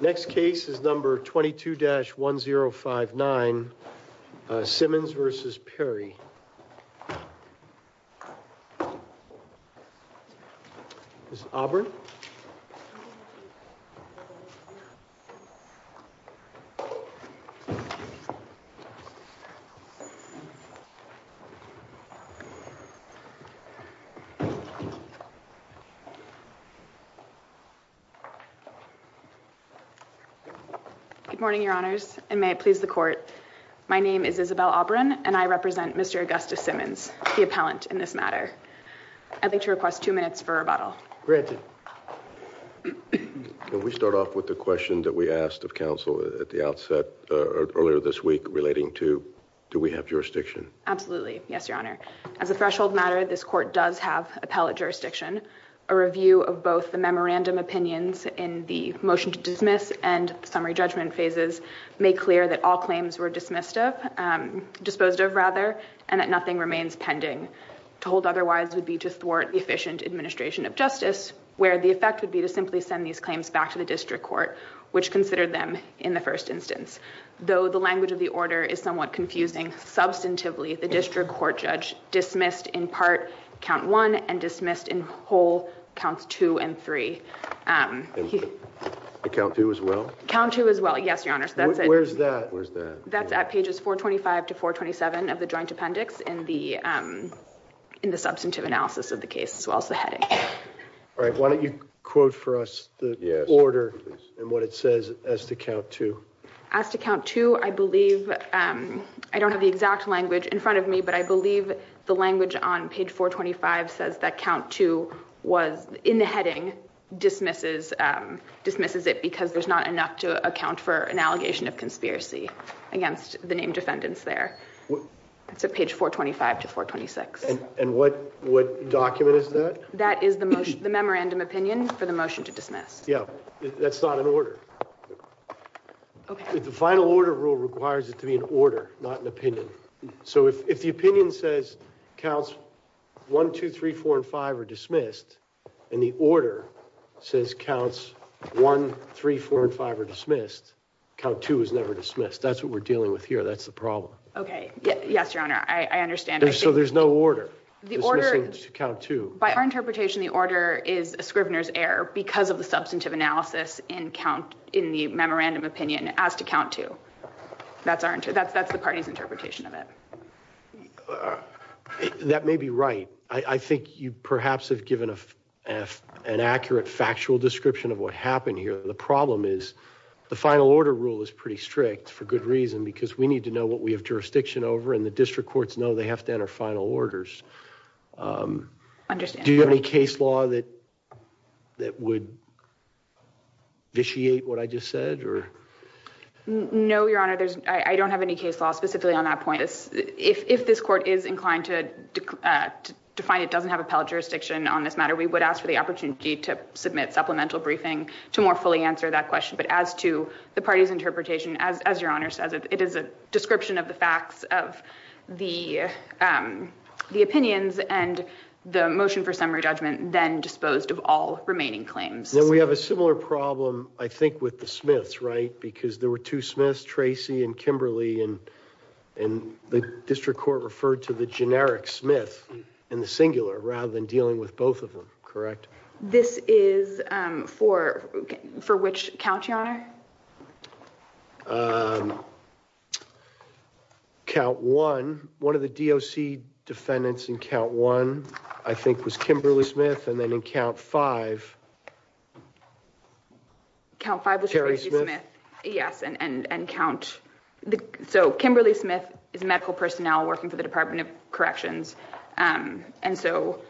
Next case is number 22-1059 Simmons v. Perry Good morning, your honors, and may it please the court. My name is Isabel Aubryn, and I represent Mr. Augustus Simmons, the appellant in this matter. I'd like to request two minutes for rebuttal. Richard Can we start off with the question that we asked of counsel at the outset earlier this week relating to do we have jurisdiction? Absolutely. Yes, your honor. As a threshold matter, this court does have appellate jurisdiction. A review of both the memorandum opinions in the motion to dismiss and summary judgment phases make clear that all claims were disposed of and that nothing remains pending. Told otherwise would be to thwart the efficient administration of justice, where the effect would be to simply send these claims back to the district court, which considered them in the first instance. Though the language of the order is somewhat confusing, substantively the district court judge dismissed in part count one and dismissed in whole counts two and three. Richard Count two as well? Isabel Count two as well. Yes, your honor. Richard Where's that? Isabel That's at pages 425 to 427 of the joint appendix in the substantive analysis of the case as well as the heading. All right. Why don't you quote for us the order and what it says as to count two? Isabel As to count two, I believe I don't have the exact language in front of me, but I believe the language on page 425 says that count two was in the heading dismisses dismisses it because there's not enough to account for an allegation of conspiracy against the named defendants there. It's a page 425 to 426. And what what document is that? Isabel That is the most the memorandum opinion for the motion to dismiss. Richard Yeah, that's not an order. Isabel OK. Richard The final order rule requires it to be an order, not an opinion. So if the opinion says counts one, two, three, four and five are dismissed and the order says counts one, three, four and five are dismissed, count two is never dismissed. That's what we're dealing with here. That's the problem. Isabel OK. Yes, your honor. I understand. Richard So there's no order. Isabel The order Richard Count two. Isabel By our interpretation, the order is a Scrivener's error because of the substantive analysis in count in the memorandum opinion as to count two. That's our that's that's the party's interpretation of it. Richard That may be right. I think you perhaps have given an accurate factual description of what happened here. The problem is the final order rule is pretty strict for good reason, because we need to know what we have jurisdiction over and the district courts know they have to enter final orders. Isabel I understand. Richard Do you have any case law that that would vitiate what I just said or? Isabel No, your honor. I don't have any case law specifically on that point. If this court is inclined to define it doesn't have appellate jurisdiction on this matter, we would ask for the opportunity to submit supplemental briefing to more fully answer that question. But as to the party's interpretation, as your honor says, it is a description of the facts of the the opinions and the motion for summary judgment then disposed of all remaining claims. Richard We have a similar problem, I think, with the Smiths, right? Because there were two Smiths, Tracy and Kimberly, and and the district court referred to the generic Smith in the singular rather than dealing with both of them. Correct? This is for for which count, your honor? Count one, one of the DOC defendants in count one, I think, was Kimberly Smith. And then in count five, count five was Tracy Smith. Yes. And and count. So Kimberly Smith is medical personnel working for the Department of Corrections. And so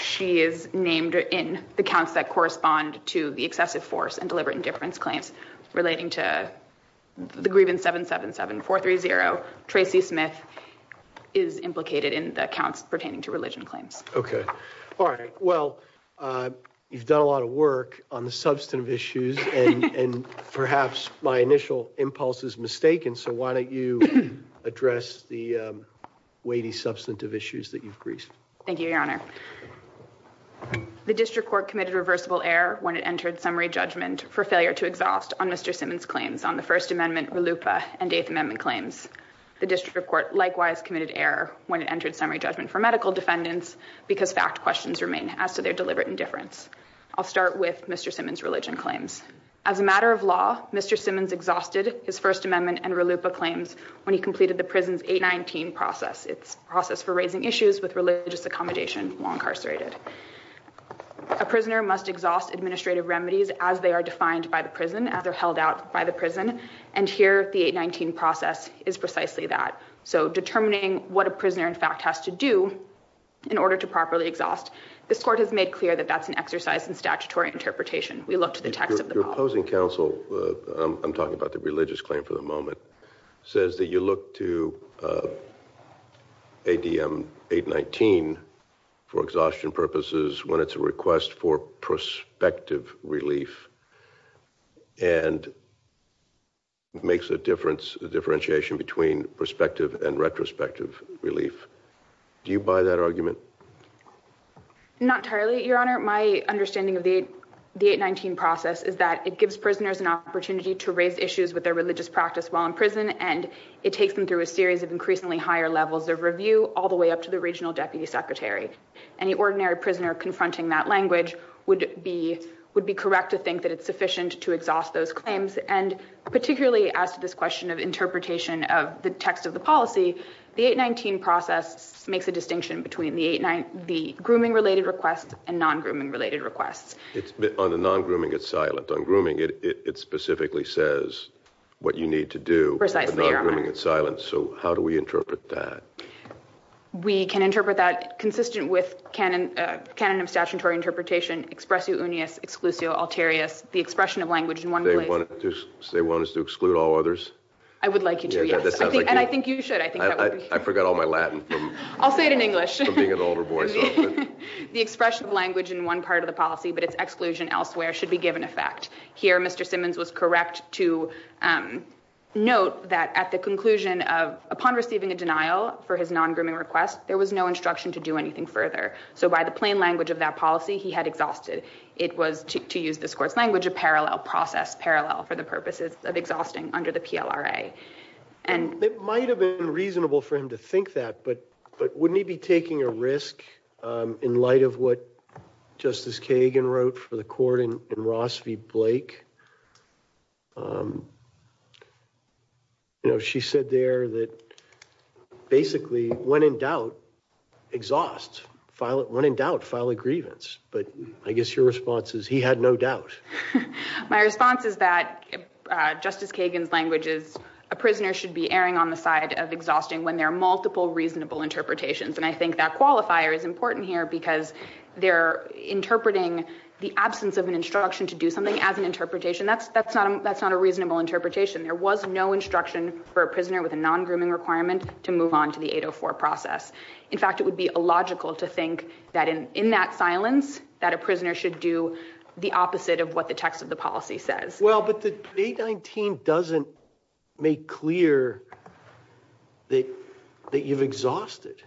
she is named in the counts that correspond to the excessive force and deliberate indifference claims relating to the grievance 777430. Tracy Smith is implicated in the counts pertaining to religion claims. Okay. All right. Well, you've done a lot of work on the substantive issues and perhaps my initial impulse is mistaken. So why don't you address the weighty substantive issues that you've greased? Thank you, your honor. The district court committed reversible error when it entered summary judgment for failure to exhaust on Mr. Simmons claims on the First Amendment RLUIPA and Eighth Amendment claims. The district court likewise committed error when it entered summary judgment for medical defendants because fact questions remain as to their deliberate indifference. I'll start with Mr. Simmons religion claims. As a matter of law, Mr. Simmons exhausted his First Amendment and RLUIPA claims when he completed the prison's 819 process. It's a process for raising issues with religious accommodation while incarcerated. A prisoner must exhaust administrative remedies as they are defined by the prison, as they're held out by the prison. And here, the 819 process is precisely that. So determining what a prisoner in fact has to do in order to properly exhaust, this court has made clear that that's an exercise in statutory interpretation. We look to the text of the- Your opposing counsel, I'm talking about the religious claim for the moment, says that you look to ADM 819 for exhaustion purposes when it's a request for prospective relief and makes a difference, a differentiation between prospective and retrospective relief. Do you buy that argument? Not entirely, Your Honor. My understanding of the 819 process is that it gives prisoners an opportunity to raise issues with their It takes them through a series of increasingly higher levels of review, all the way up to the regional deputy secretary. Any ordinary prisoner confronting that language would be correct to think that it's sufficient to exhaust those claims. And particularly as to this question of interpretation of the text of the policy, the 819 process makes a distinction between the grooming-related requests and non-grooming-related requests. It's on the non-grooming, it's silent. On grooming, it specifically says what you need to do. Precisely, Your Honor. But not grooming, it's silent. So how do we interpret that? We can interpret that consistent with canon of statutory interpretation, expressio unius, exclusio alterius, the expression of language in one place- They want us to exclude all others? I would like you to, yes. Yeah, that sounds like you. And I think you should. I think that would be- I forgot all my Latin from- I'll say it in English. From being an older boy, so. The expression of language in one part of the policy, but its exclusion elsewhere, should be given effect. Here, Mr. Simmons was correct to note that at the conclusion of, upon receiving a denial for his non-grooming request, there was no instruction to do anything further. So by the plain language of that policy, he had exhausted. It was, to use this Court's language, a parallel process, parallel for the purposes of exhausting under the PLRA. And- It might have been reasonable for him to think that, but wouldn't he be taking a risk in of what Justice Kagan wrote for the Court in Ross v. Blake? You know, she said there that basically, when in doubt, exhaust. When in doubt, file a grievance. But I guess your response is, he had no doubt. My response is that Justice Kagan's language is, a prisoner should be erring on the side of exhausting when there are multiple reasonable interpretations. And I think that qualifier is important here because they're interpreting the absence of an instruction to do something as an interpretation. That's not a reasonable interpretation. There was no instruction for a prisoner with a non-grooming requirement to move on to the 804 process. In fact, it would be illogical to think that in that silence, that a prisoner should do the opposite of what the text of the policy says. Well, but the 819 doesn't make clear that you've exhausted.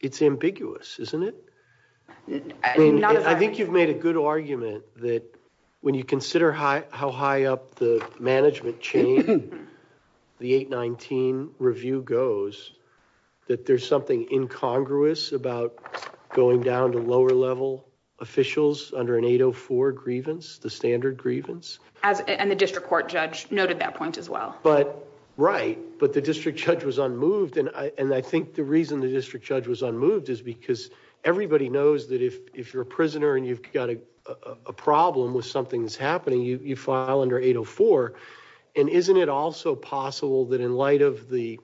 It's ambiguous, isn't it? I think you've made a good argument that when you consider how high up the management chain the 819 review goes, that there's something incongruous about going down to lower level officials under an 804 grievance, the standard grievance. And the district court judge noted that point as well. But right. But the district judge was unmoved. And I think the reason the district judge was unmoved is because everybody knows that if you're a prisoner and you've got a problem with something that's happening, you file under 804. And isn't it also possible that in light of the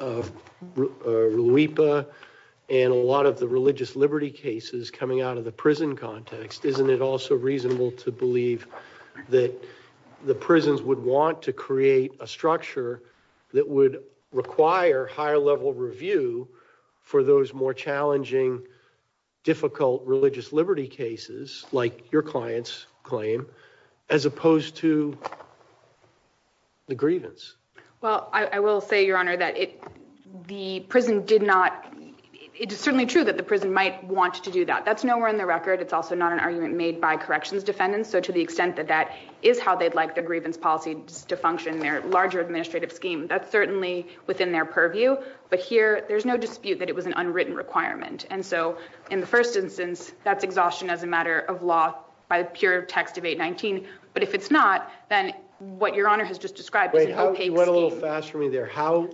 LUIPA and a lot of the religious liberty cases coming out of the prison context, isn't it also reasonable to believe that the prisons would want to create a structure that would require higher level review for those more challenging, difficult religious liberty cases like your client's claim, as opposed to the grievance? Well, I will say, Your Honor, that the prison did not. It is certainly true that the prison might want to do that. That's nowhere in the record. It's also not an argument made by corrections defendants. So to the extent that that is how they'd like the grievance policy to function in their larger administrative scheme, that's certainly within their purview. But here, there's no dispute that it was an unwritten requirement. And so in the first instance, that's exhaustion as a matter of law by the pure text of 819. But if it's not, then what Your Honor has just described is an opaque scheme. Wait, you went a little fast for me there. How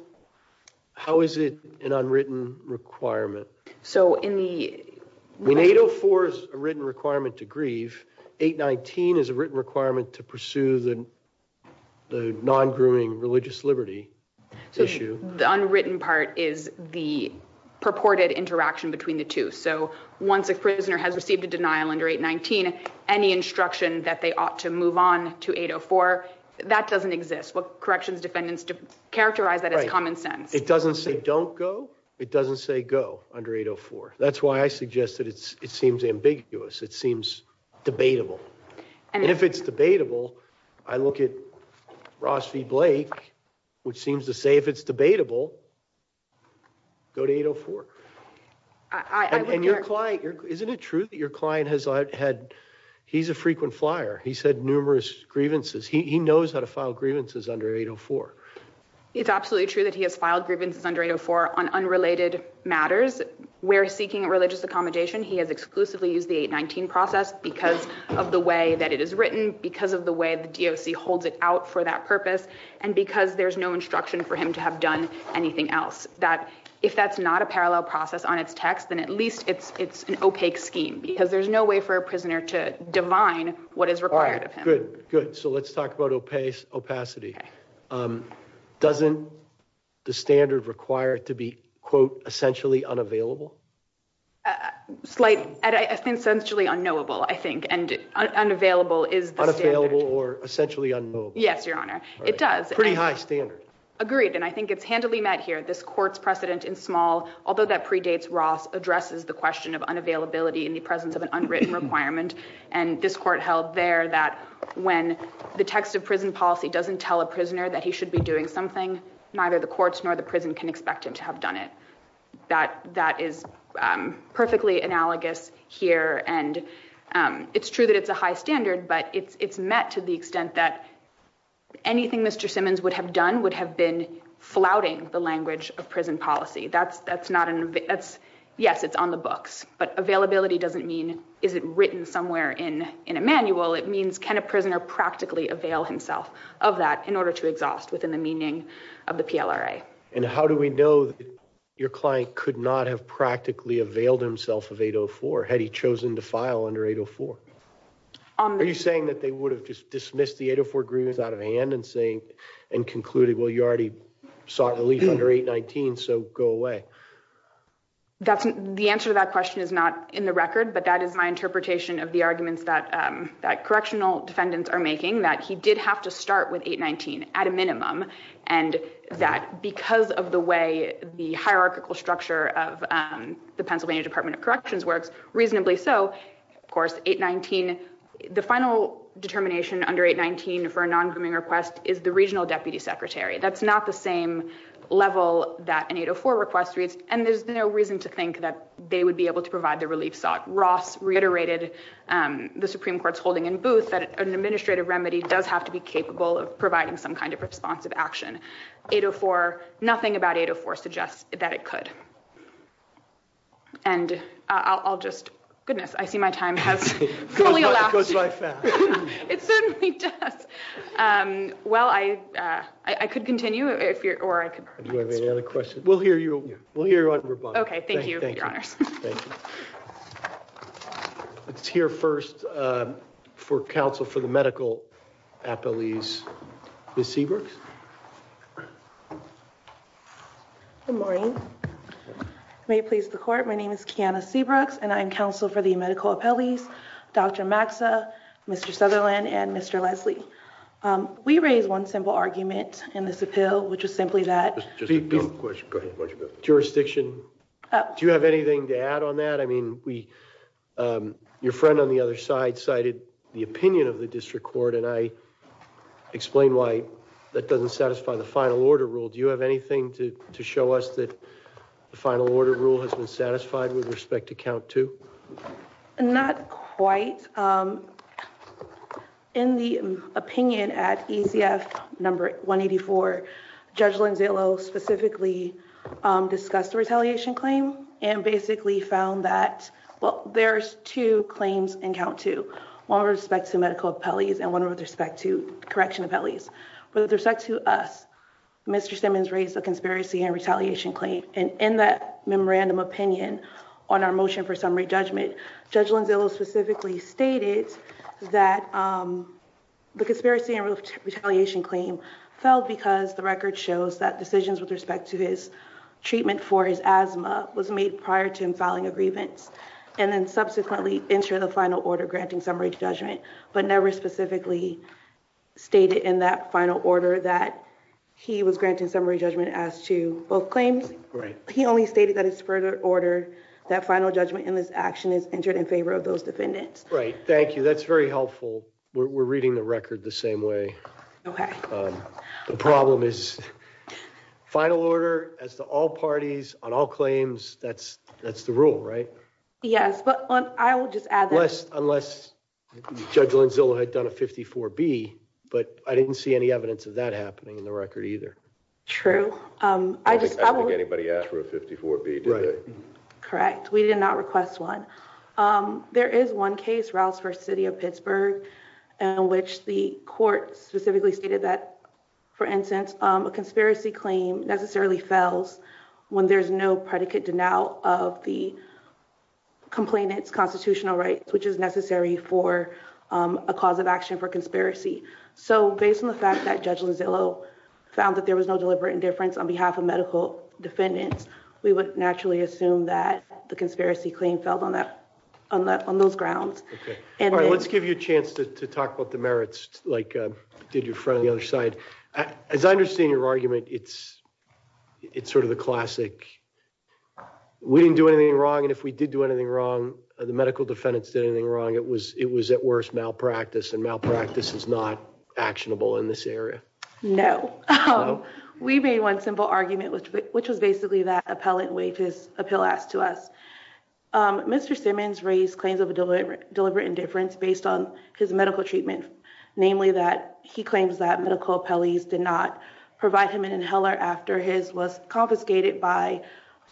is it an unwritten requirement? So in the... When 804 is a written requirement to grieve, 819 is a written requirement to pursue the non-grooming religious liberty issue. The unwritten part is the purported interaction between the two. So once a prisoner has received a denial under 819, any instruction that they ought to move on to 804, that doesn't exist. Corrections defendants characterize that as common sense. It doesn't say don't go. It doesn't say go under 804. That's why I suggested it seems ambiguous. It seems debatable. And if it's debatable, I look at Ross v. Blake, which seems to say if it's debatable, go to 804. I would... And your client... Isn't it true that your client has had... He's a frequent flyer. He's had numerous grievances. He knows how to file grievances under 804. It's absolutely true that he has filed grievances under 804 on unrelated matters where seeking a religious accommodation, he has exclusively used the 819 process because of the way that it is written, because of the way the DOC holds it out for that purpose, and because there's no instruction for him to have done anything else. If that's not a parallel process on its text, then at least it's an opaque scheme, because there's no way for a prisoner to divine what is required of him. All right. Good. Good. So let's talk about opacity. Doesn't the standard require it to be, quote, essentially unavailable? Slight... Essentially unknowable, I think. And unavailable is the standard. Unavailable or essentially unknowable. Yes, Your Honor. It does. Pretty high standard. Agreed. And I think it's handily met here. This court's precedent in small, although that predates Ross, addresses the question of unavailability in the presence of an unwritten requirement. And this court held there that when the text of prison policy doesn't tell a prisoner that he should be doing something, neither the courts nor the prison can expect him to have done it. That is perfectly analogous here. And it's true that it's a high standard, but it's met to the extent that anything Mr. Simmons would have done would have been flouting the language of prison policy. Yes, it's on the books, but availability doesn't mean, is it written somewhere in a manual? It means, can a prisoner practically avail himself of that in order to exhaust within the meaning of the PLRA? And how do we know that your client could not have practically availed himself of 804, had he chosen to file under 804? Are you saying that they would have just dismissed the 804 agreements out of hand and concluded, well, you already sought relief under 819, so go away? The answer to that question is not in the record, but that is my interpretation of the arguments that correctional defendants are making, that he did have to start with 819 at a minimum, and that because of the way the hierarchical structure of the Pennsylvania Department of Justice, the final determination under 819 for a non-grooming request is the regional deputy secretary. That's not the same level that an 804 request reads, and there's no reason to think that they would be able to provide the relief sought. Ross reiterated the Supreme Court's holding in Booth that an administrative remedy does have to be capable of providing some kind of responsive action. 804, nothing about 804 suggests that it could. And I'll just, goodness, I see my time has fully elapsed. It certainly does. Well, I could continue if you're, or I could. Do you have any other questions? We'll hear you on rebuttal. Okay, thank you, your honors. Let's hear first for counsel for the medical appellees. Ms. Seabrooks? Good morning. May it please the court, my name is Kiana Seabrooks, and I'm counsel for the medical appellees, Dr. Maxa, Mr. Sutherland, and Mr. Leslie. We raise one simple argument in this appeal, which is simply that. Jurisdiction. Do you have anything to add on that? I mean, we, your friend on the other side cited the opinion of the district court, and I explained why that doesn't satisfy the final order rule. Do you have anything to show us that the final order rule has been satisfied with respect to count two? Not quite. In the opinion at ECF number 184, Judge Lanzillo specifically discussed the retaliation claim and basically found that, well, there's two claims in count two. One with respect to medical appellees and one with respect to correction appellees. With respect to us, Mr. Simmons raised a conspiracy and retaliation claim, and in that memorandum opinion on our motion for summary judgment, Judge Lanzillo specifically stated that the conspiracy and retaliation claim fell because the record shows that decisions with respect to his treatment for his asthma was made prior to him filing a grievance, and then subsequently enter the final order granting summary judgment, but never specifically stated in that final order that he was granting summary judgment as to both claims. He only stated that it's further order that final judgment in this action is entered in favor of those defendants. Right. Thank you. That's very helpful. We're reading the record the same way. Okay. The problem is final order as to all parties on all claims, that's the rule, right? Yes, but I will just add that. Unless Judge Lanzillo had done a 54B, but I didn't see any evidence of that happening in the record either. True. I think anybody asked for a 54B today. Correct. We did not request one. There is one case, Rouse v. City of Pittsburgh, in which the court specifically stated that, for instance, a conspiracy claim necessarily fails when there's no predicate denial of the complainant's constitutional rights, which is necessary for a cause of action for conspiracy. So based on the fact that Judge on behalf of medical defendants, we would naturally assume that the conspiracy claim fell on those grounds. Okay. All right. Let's give you a chance to talk about the merits, like did your friend on the other side. As I understand your argument, it's sort of the classic, we didn't do anything wrong, and if we did do anything wrong, the medical defendants did anything wrong, it was at worst malpractice, and malpractice is not actionable in this area. No. We made one simple argument, which was basically that appellant waived his appeal asked to us. Mr. Simmons raised claims of deliberate indifference based on his medical treatment, namely that he claims that medical appellees did not provide him an inhaler after his was confiscated by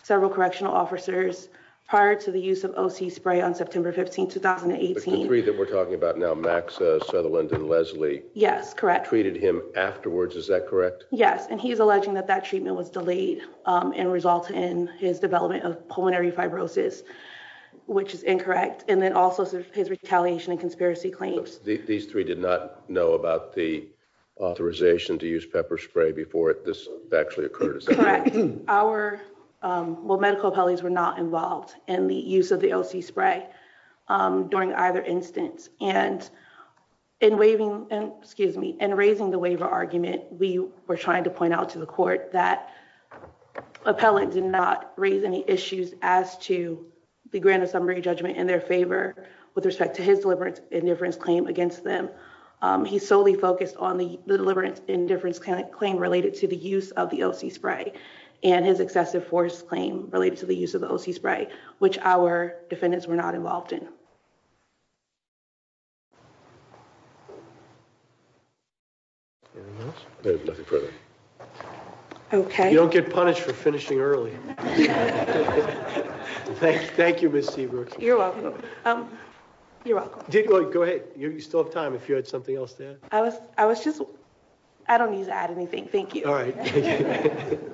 several correctional officers prior to the use of OC spray on September 15, 2018. The three that we're talking about now, Max Sutherland and Leslie. Yes, correct. Treated him afterwards, is that correct? Yes, and he's alleging that that treatment was delayed and result in his development of pulmonary fibrosis, which is incorrect, and then also his retaliation and conspiracy claims. These three did not know about the authorization to use pepper spray before this actually occurred. Correct. Our medical appellees were not involved in the use of OC spray during either instance, and in raising the waiver argument, we were trying to point out to the court that appellant did not raise any issues as to the grand assembly judgment in their favor with respect to his deliberate indifference claim against them. He solely focused on the deliberate indifference claim related to the use of the OC spray and his excessive force claim related to the use of the OC spray, which our defendants were not involved in. Okay. You don't get punished for finishing early. Thank you, Ms. Seabrooks. You're welcome. You're welcome. Go ahead. You still have time if you had something else to add. I was just, I don't need to add anything. Thank you. All right. Thank you.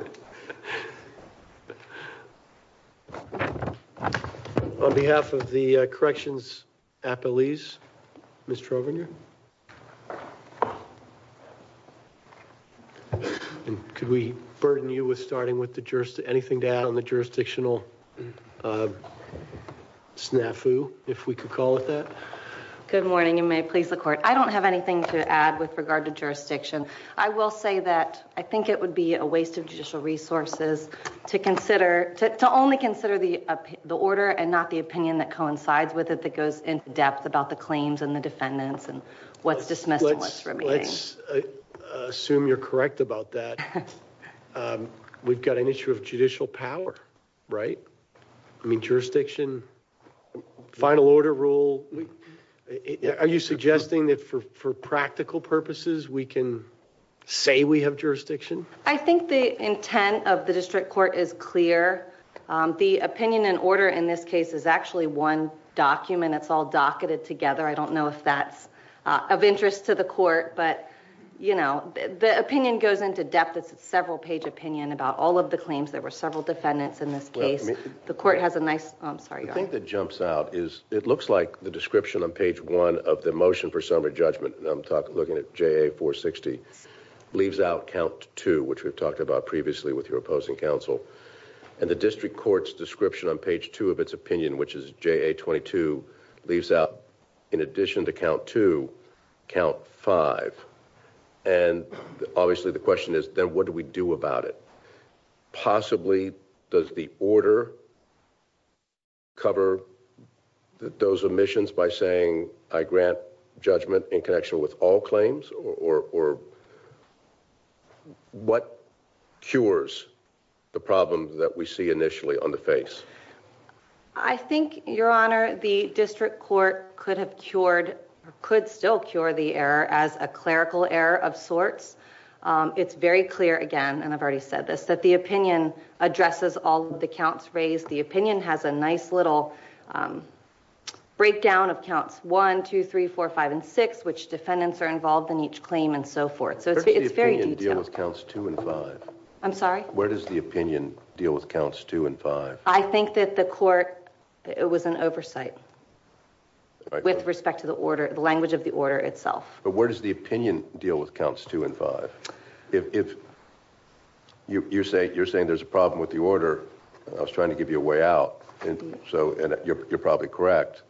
On behalf of the corrections appellees, Ms. Trovener. And could we burden you with starting with the jurist, anything to add on the jurisdictional snafu, if we could call it that? Good morning. You may please the court. I don't have anything to add with regard to jurisdiction. I will say that I think it would be a waste of judicial resources to consider, to only consider the order and not the opinion that coincides with it, that goes in depth about the claims and the defendants and what's dismissed and what's remaining. Let's assume you're correct about that. We've got an issue of judicial power, right? I mean, jurisdiction, final order rule. Are you suggesting that for practical purposes, we can say we have jurisdiction? I think the intent of the district court is clear. The opinion and order in this case is actually one document. It's all docketed together. I don't know if that's of interest to the court, but you know, the opinion goes into depth. It's a several page opinion about all of the claims. There were several defendants in this case. The court has a nice, I'm sorry. The thing that jumps out is it looks like the description on page one of the motion for summary judgment, and I'm looking at JA 460, leaves out count two, which we've talked about previously with your opposing counsel. And the district court's description on page two of its opinion, which is JA 22, leaves out in addition to count two, count five. And obviously the question is then what do we do about it? Possibly does the order cover those omissions by saying I grant summary judgment in connection with all claims or what cures the problem that we see initially on the face? I think, your honor, the district court could have cured or could still cure the error as a clerical error of sorts. It's very clear again, and I've already said this, that the opinion addresses all the counts raised. The opinion has a nice little breakdown of counts one, two, three, four, five, and six, which defendants are involved in each claim and so forth. So it's very detailed. Where does the opinion deal with counts two and five? I'm sorry? Where does the opinion deal with counts two and five? I think that the court, it was an oversight with respect to the order, the language of the order itself. But where does the opinion deal with counts two and five? If you're saying there's a problem with the order, I was trying to give you a way out, and so you're probably correct.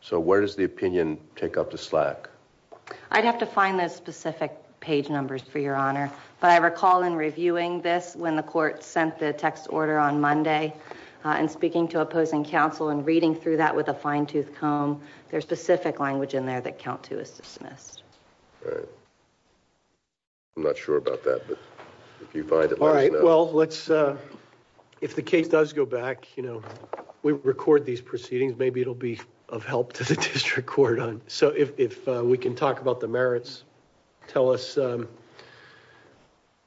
So where does the opinion take up the slack? I'd have to find those specific page numbers for your honor, but I recall in reviewing this when the court sent the text order on Monday and speaking to opposing counsel and reading through that with a fine-tooth comb, there's specific language in there that count two is dismissed. Right. I'm not sure about that, but if you find it, let us know. Well, let's, if the case does go back, you know, we record these proceedings, maybe it'll be of help to the district court. So if we can talk about the merits, tell us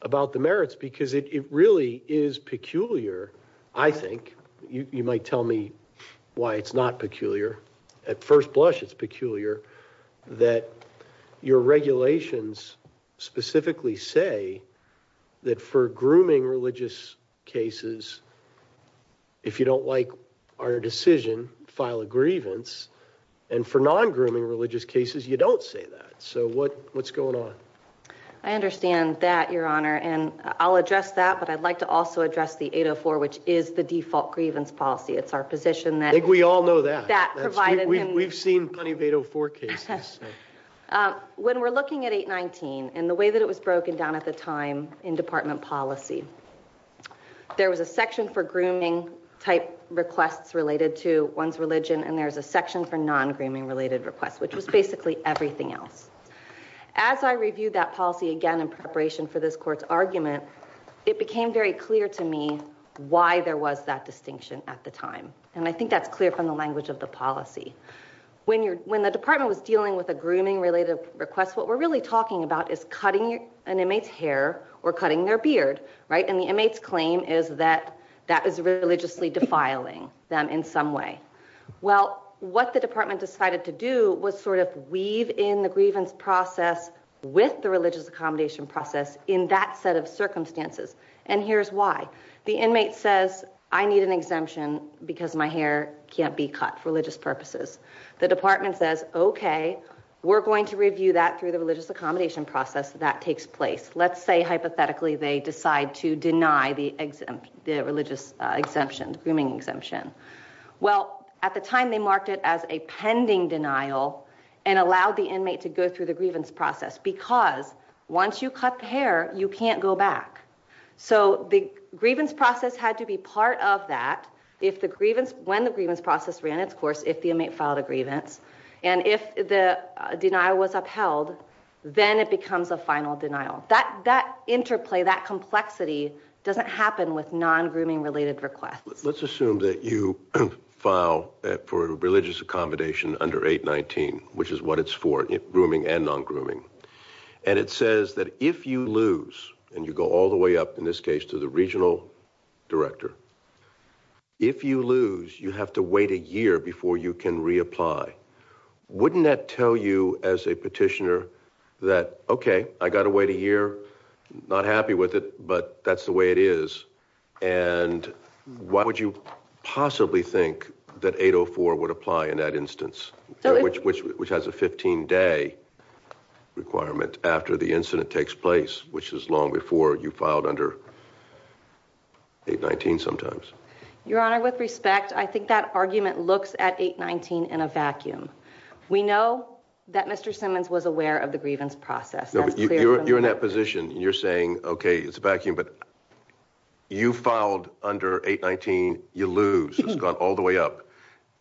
about the merits, because it really is peculiar, I think. You might tell me why it's not peculiar. At first blush, it's peculiar that your regulations specifically say that for grooming religious cases, if you don't like our decision, file a grievance, and for non-grooming religious cases, you don't say that. So what's going on? I understand that, your honor, and I'll address that, but I'd like to also address the 804, which is the default grievance policy. It's our position We all know that. We've seen plenty of 804 cases. When we're looking at 819 and the way that it was broken down at the time in department policy, there was a section for grooming type requests related to one's religion, and there's a section for non-grooming related requests, which was basically everything else. As I reviewed that policy again in preparation for this court's argument, it became very clear to me why there was that distinction at the time, and I think that's clear from the language of the policy. When the department was dealing with a grooming-related request, what we're really talking about is cutting an inmate's hair or cutting their beard, and the inmate's claim is that that is religiously defiling them in some way. Well, what the department decided to do was sort of weave in the grievance process with the religious accommodation process in that set circumstances, and here's why. The inmate says, I need an exemption because my hair can't be cut for religious purposes. The department says, okay, we're going to review that through the religious accommodation process that takes place. Let's say, hypothetically, they decide to deny the religious exemption, grooming exemption. Well, at the time, they marked it as a pending denial and allowed the inmate to go through the grievance process because once you cut the hair, you can't go back. So the grievance process had to be part of that if the grievance, when the grievance process ran its course, if the inmate filed a grievance, and if the denial was upheld, then it becomes a final denial. That interplay, that complexity doesn't happen with non-grooming-related requests. Let's assume that you file for a religious accommodation under 819, which is what it's for, grooming and non-grooming, and it says that if you lose, and you go all the way up, in this case, to the regional director, if you lose, you have to wait a year before you can reapply. Wouldn't that tell you as a petitioner that, okay, I got to wait a year, not happy with it, but that's the way it is, and why would you possibly think that 804 would apply in that instance, which has a 15-day requirement after the incident takes place, which is long before you filed under 819 sometimes? Your Honor, with respect, I think that argument looks at 819 in a vacuum. We know that Mr. Simmons was aware of the grievance process. You're in that position. You're saying, okay, it's a vacuum, but you filed under 819, you lose, it's gone all the way up.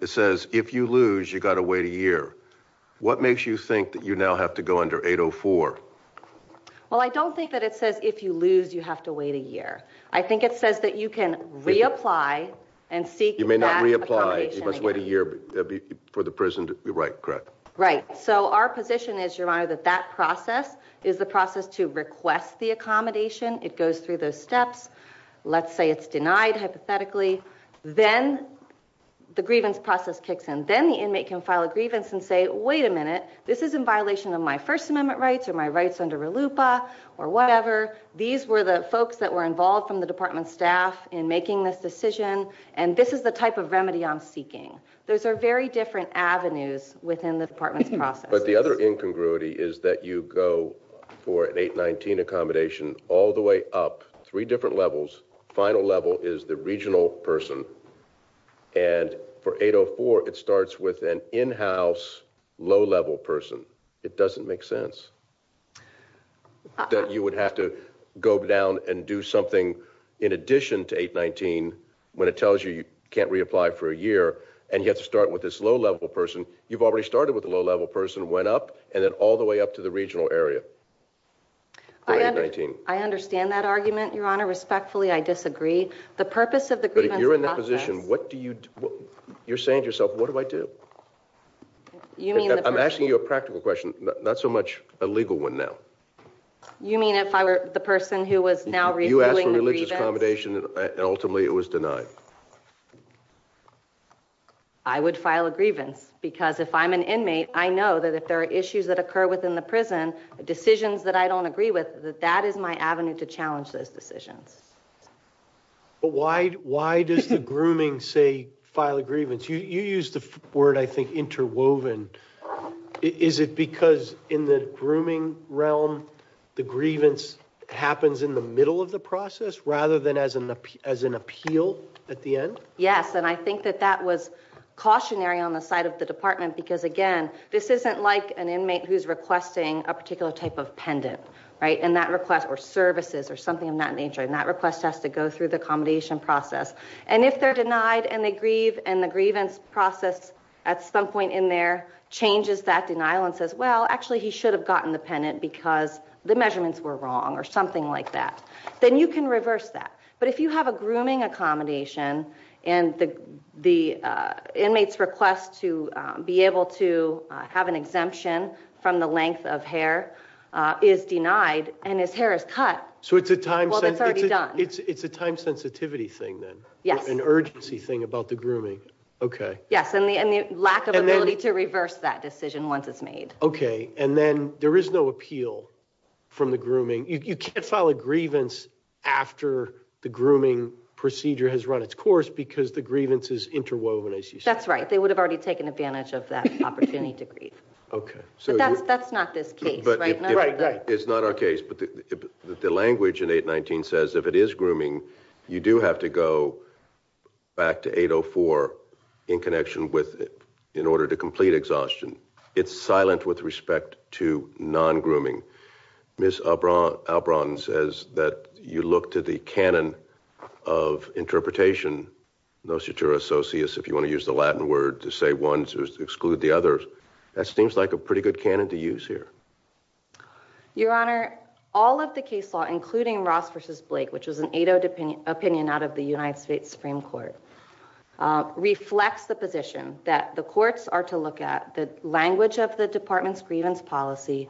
It says if you lose, you got to wait a year. What makes you think that you now have to go under 804? Well, I don't think that it says if you lose, you have to wait a year. I think it says that you can reapply and seek that accommodation again. You may not reapply. You must wait a year for the prison to be right, correct? Right. So our position is, Your Honor, that that process is the process to request the accommodation. It goes through those steps. Let's say it's the grievance process kicks in. Then the inmate can file a grievance and say, wait a minute, this is in violation of my First Amendment rights or my rights under RLUIPA or whatever. These were the folks that were involved from the department staff in making this decision, and this is the type of remedy I'm seeking. Those are very different avenues within the department's process. But the other incongruity is that you go for an 819 accommodation all the up. Three different levels. Final level is the regional person. And for 804, it starts with an in-house low-level person. It doesn't make sense that you would have to go down and do something in addition to 819 when it tells you you can't reapply for a year and you have to start with this low-level person. You've already started with a low-level person, went up, and then all the way up to the regional area. I understand that argument, Your Honor. Respectfully, I disagree. The purpose of the grievance process... But if you're in that position, what do you... You're saying to yourself, what do I do? I'm asking you a practical question, not so much a legal one now. You mean if I were the person who was now reviewing the grievance? You asked for religious accommodation and ultimately it was denied. I would file a grievance because if I'm an inmate, I know that if there are issues that I don't agree with in the prison, decisions that I don't agree with, that is my avenue to challenge those decisions. But why does the grooming say file a grievance? You used the word, I think, interwoven. Is it because in the grooming realm, the grievance happens in the middle of the process rather than as an appeal at the end? Yes, and I think that that was cautionary on the side of the a particular type of pendant, or services, or something of that nature. And that request has to go through the accommodation process. And if they're denied and they grieve, and the grievance process at some point in there changes that denial and says, well, actually he should have gotten the pendant because the measurements were wrong or something like that, then you can reverse that. But if you have a grooming accommodation and the inmate's request to be able to have an exemption from the length of hair is denied and his hair is cut, well, it's already done. It's a time sensitivity thing then. Yes. An urgency thing about the grooming. Okay. Yes, and the lack of ability to reverse that decision once it's made. Okay, and then there is no appeal from the grooming. You can't file a grievance after the grooming procedure has run its course because the grievance is interwoven, as you said. That's right. They would have already taken advantage of that opportunity to grieve. Okay. But that's not this case, right? Right, right. It's not our case, but the language in 819 says if it is grooming, you do have to go back to 804 in connection with in order to complete exhaustion. It's silent with respect to non-grooming. Ms. Albron says that you look to the canon of interpretation, nocitura socius, if you want to use the Latin word to one to exclude the others, that seems like a pretty good canon to use here. Your Honor, all of the case law, including Ross v. Blake, which was an 8-0 opinion out of the United States Supreme Court, reflects the position that the courts are to look at the language of the department's grievance policy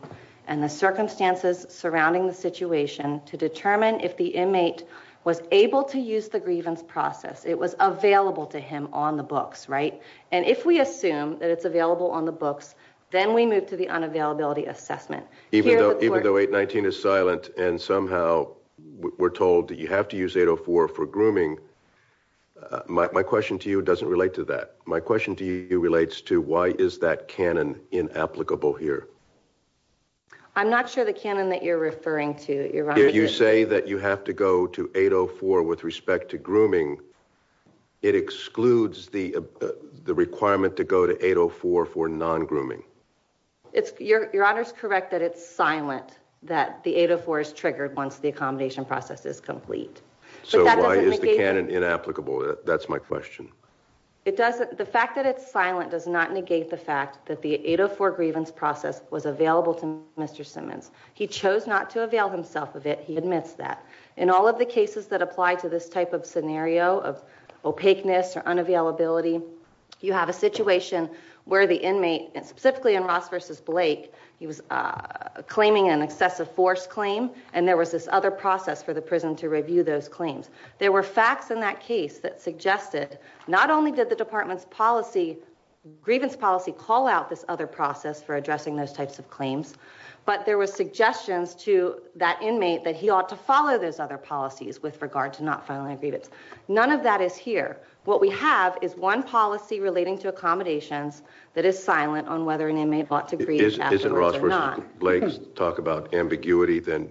and the circumstances surrounding the situation to determine if the inmate was able to use the grievance process. It was available to him on the books, right? And if we assume that it's available on the books, then we move to the unavailability assessment. Even though 819 is silent and somehow we're told that you have to use 804 for grooming, my question to you doesn't relate to that. My question to you relates to why is that canon inapplicable here? I'm not sure the canon that you're referring to, Your Honor. You say that you have to go to 804 with respect to grooming. It excludes the requirement to go to 804 for non-grooming. Your Honor's correct that it's silent that the 804 is triggered once the accommodation process is complete. So why is the canon inapplicable? That's my question. The fact that it's silent does not negate the fact that the 804 grievance process was available to Mr. Simmons. He chose not to avail himself of it. He admits that. In all of the cases that apply to this type of scenario of opaqueness or unavailability, you have a situation where the inmate, specifically in Ross v. Blake, he was claiming an excessive force claim and there was this other process for the prison to review those claims. There were facts in that case that suggested not only did the department's policy, grievance policy, call out this other process for but there were suggestions to that inmate that he ought to follow those other policies with regard to not filing a grievance. None of that is here. What we have is one policy relating to accommodations that is silent on whether an inmate ought to grieve afterwards or not. Isn't Ross v. Blake's talk about ambiguity, then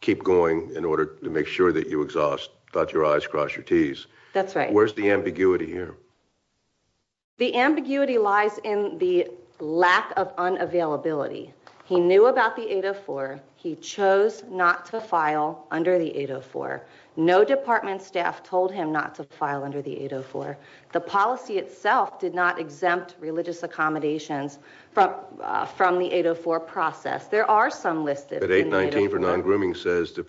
keep going in order to make sure that you exhaust, dot your i's, cross your t's. That's right. Where's the ambiguity here? The ambiguity lies in the lack of unavailability. He knew about the 804. He chose not to file under the 804. No department staff told him not to file under the 804. The policy itself did not exempt religious accommodations from the 804 process. There are some listed. But 819 for non-grooming says to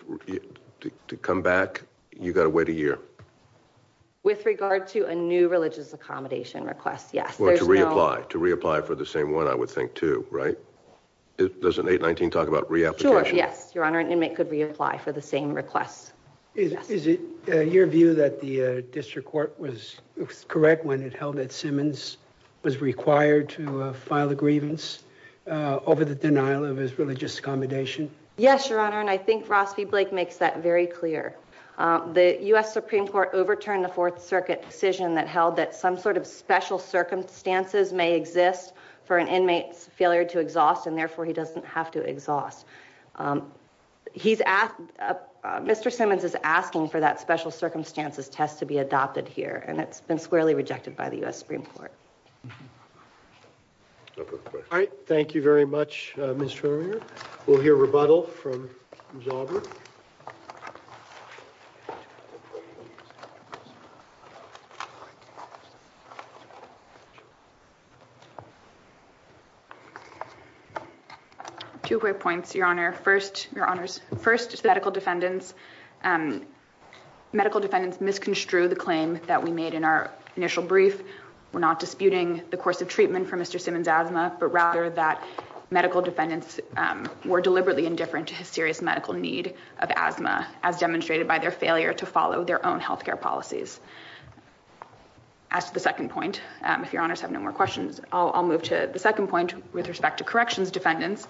come back, you've got to wait a year. With regard to a new religious accommodation request, yes. To reapply for the same one, I would think, too, right? Doesn't 819 talk about reapplication? Sure, yes, Your Honor. An inmate could reapply for the same request. Is it your view that the district court was correct when it held that Simmons was required to file a grievance over the denial of his religious accommodation? Yes, Your Honor. And I think Ross v. Blake makes that very clear. The U.S. Supreme Court overturned the Fourth Circuit decision that held that some sort of special circumstances may exist for an inmate's failure to exhaust, and therefore he doesn't have to exhaust. Mr. Simmons is asking for that special circumstances test to be adopted here, and it's been squarely rejected by the U.S. Supreme Court. No further questions. All right. Thank you very much, Mr. Vermeer. We'll hear rebuttal from Ms. Aubry. Two quick points, Your Honor. First, medical defendants misconstrued the claim that we made in our initial brief. We're not disputing the course of treatment for Mr. Simmons' asthma, but rather that medical defendants were deliberately indifferent to his serious medical need of asthma, as demonstrated by their failure to follow their own health care policies. As to the second point, if Your Honors have no more questions, I'll move to the second point with respect to corrections defendants.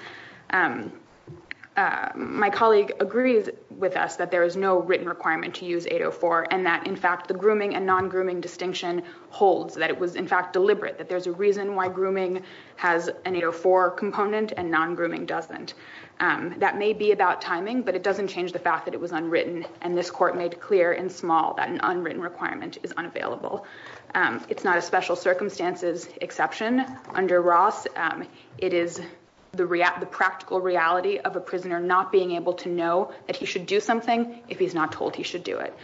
My colleague agrees with us that there is no written requirement to use 804, and that, in fact, the grooming and non-grooming distinction holds, that it was, in fact, deliberate, that there's a reason why grooming has an 804 component and non-grooming doesn't. That may be about timing, but it doesn't change the fact that it was unwritten, and this Court made clear in small that an unwritten requirement is unavailable. It's not a special circumstances exception. Under Ross, it is the practical reality of a prisoner not being able to know that he should do something if he's not told he should do it.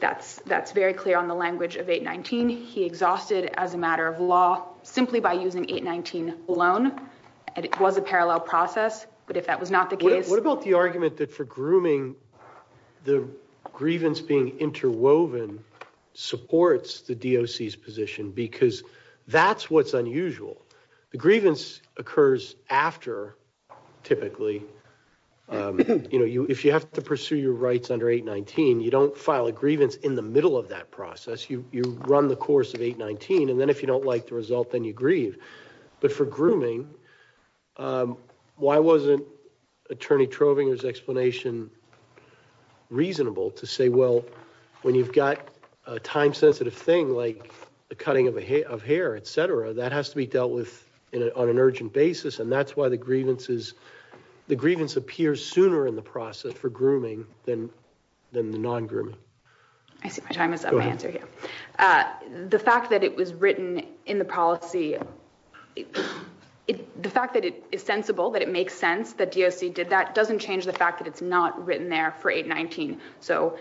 That's very clear on the language of 819. He exhausted, as a matter of law, simply by using 819 alone, and it was a parallel process, but if that was not the case... What about the argument that for grooming, the grievance being interwoven supports the DOC's position because that's what's after, typically. You know, if you have to pursue your rights under 819, you don't file a grievance in the middle of that process. You run the course of 819, and then if you don't like the result, then you grieve, but for grooming, why wasn't Attorney Trovinger's explanation reasonable to say, well, when you've got a time-sensitive thing like the cutting of hair, etc., that has to be dealt with on an urgent basis, and that's why the grievance appears sooner in the process for grooming than the non-grooming. I see my time is up. The fact that it was written in the policy, the fact that it is sensible, that it makes sense, that DOC did that, doesn't change the fact that it's not written there for 819, so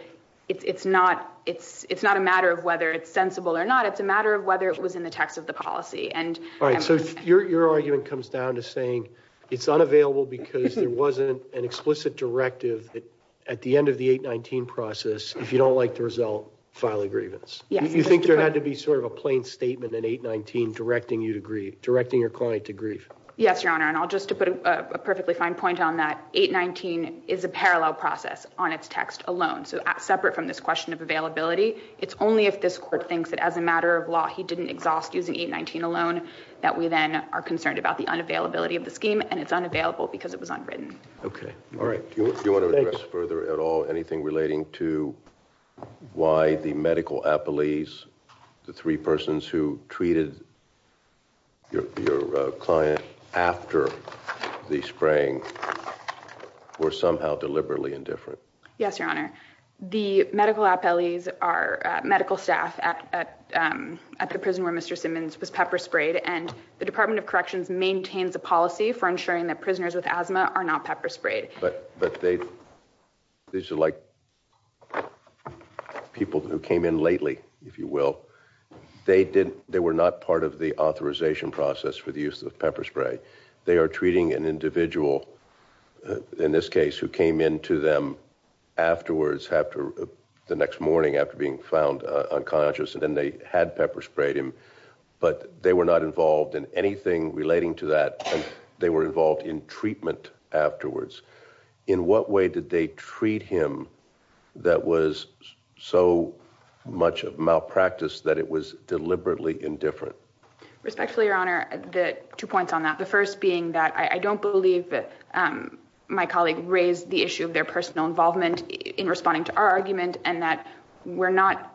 it's not a matter of whether it's sensible or not. It's a matter of whether it was in the text of the policy. All right, so your argument comes down to saying it's unavailable because there wasn't an explicit directive that at the end of the 819 process, if you don't like the result, file a grievance. You think there had to be sort of a plain statement in 819 directing your client to grieve? Yes, Your Honor, and just to put a perfectly fine point on that, 819 is a parallel process on its text alone, so separate from this question of availability. It's only if this court thinks that as a matter of law he didn't exhaust using 819 alone that we then are concerned about the unavailability of the scheme and it's unavailable because it was unwritten. Okay, all right, do you want to address further at all anything relating to why the medical appellees, the three persons who treated your client after the spraying were somehow deliberately indifferent? Yes, Your Honor, the medical appellees are medical staff at the prison where Mr. Simmons was pepper sprayed, and the Department of Corrections maintains a policy for ensuring that prisoners with asthma are not pepper sprayed. But these are like people who came in lately, if you will. They were not part of the authorization process for the use of pepper spray. They are treating an individual, in this case, who came in to them afterwards, the next morning after being found unconscious, and then they had pepper sprayed him, but they were not involved in anything relating to that. They were involved in treatment afterwards. In what way did they treat him that was so much of malpractice that it was deliberately indifferent? Respectfully, Your Honor, two points on that. The first being I don't believe my colleague raised the issue of their personal involvement in responding to our argument, and that we are not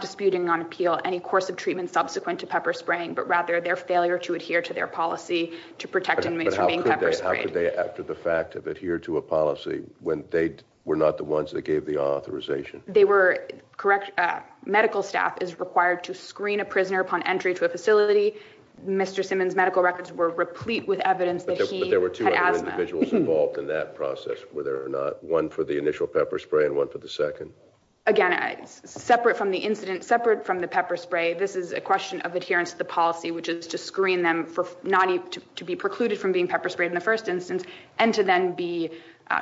disputing on appeal any course of treatment subsequent to pepper spraying, but rather their failure to adhere to their policy to protect inmates from being pepper sprayed. But how could they, after the fact, adhere to a policy when they were not the ones that gave the authorization? Medical staff is required to screen a prisoner upon entry to facility. Mr. Simmons' medical records were replete with evidence that he had asthma. But there were two other individuals involved in that process, whether or not one for the initial pepper spray and one for the second. Again, separate from the incident, separate from the pepper spray, this is a question of adherence to the policy, which is to screen them for not to be precluded from being pepper sprayed in the first instance, and to then be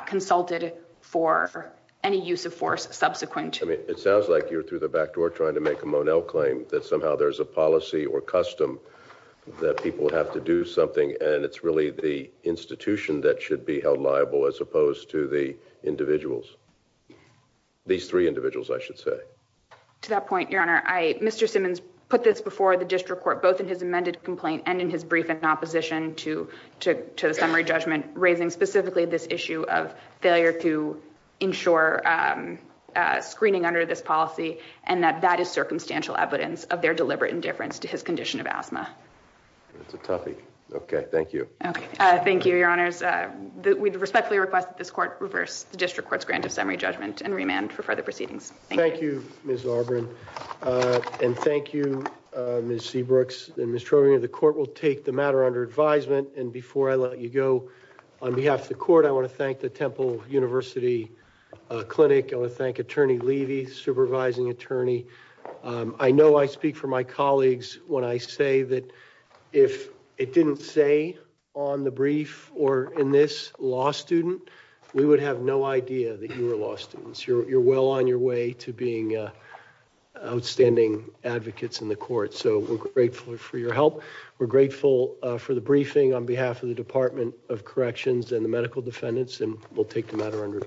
consulted for any use of force subsequent. I mean, it sounds like you're through the back door trying to make a Monell claim that somehow there's a policy or custom that people have to do something, and it's really the institution that should be held liable as opposed to the individuals. These three individuals, I should say. To that point, your honor, Mr. Simmons put this before the district court, both in his amended complaint and in his brief in opposition to the summary judgment, raising specifically this issue of failure to ensure screening under this policy, and that is circumstantial evidence of their deliberate indifference to his condition of asthma. That's a toughie. Okay, thank you. Okay, thank you, your honors. We respectfully request that this court reverse the district court's grant of summary judgment and remand for further proceedings. Thank you, Ms. Auburn, and thank you, Ms. Seabrooks and Ms. Trovino. The court will take the matter under advisement, and before I let you go, on behalf of the court, I want to thank the Temple University Clinic. I want to thank Attorney Levy, supervising attorney. I know I speak for my colleagues when I say that if it didn't say on the brief or in this law student, we would have no idea that you were law students. You're well on your way to being outstanding advocates in the court, so we're grateful for your help. We're grateful for the briefing on behalf of the matter under advisement.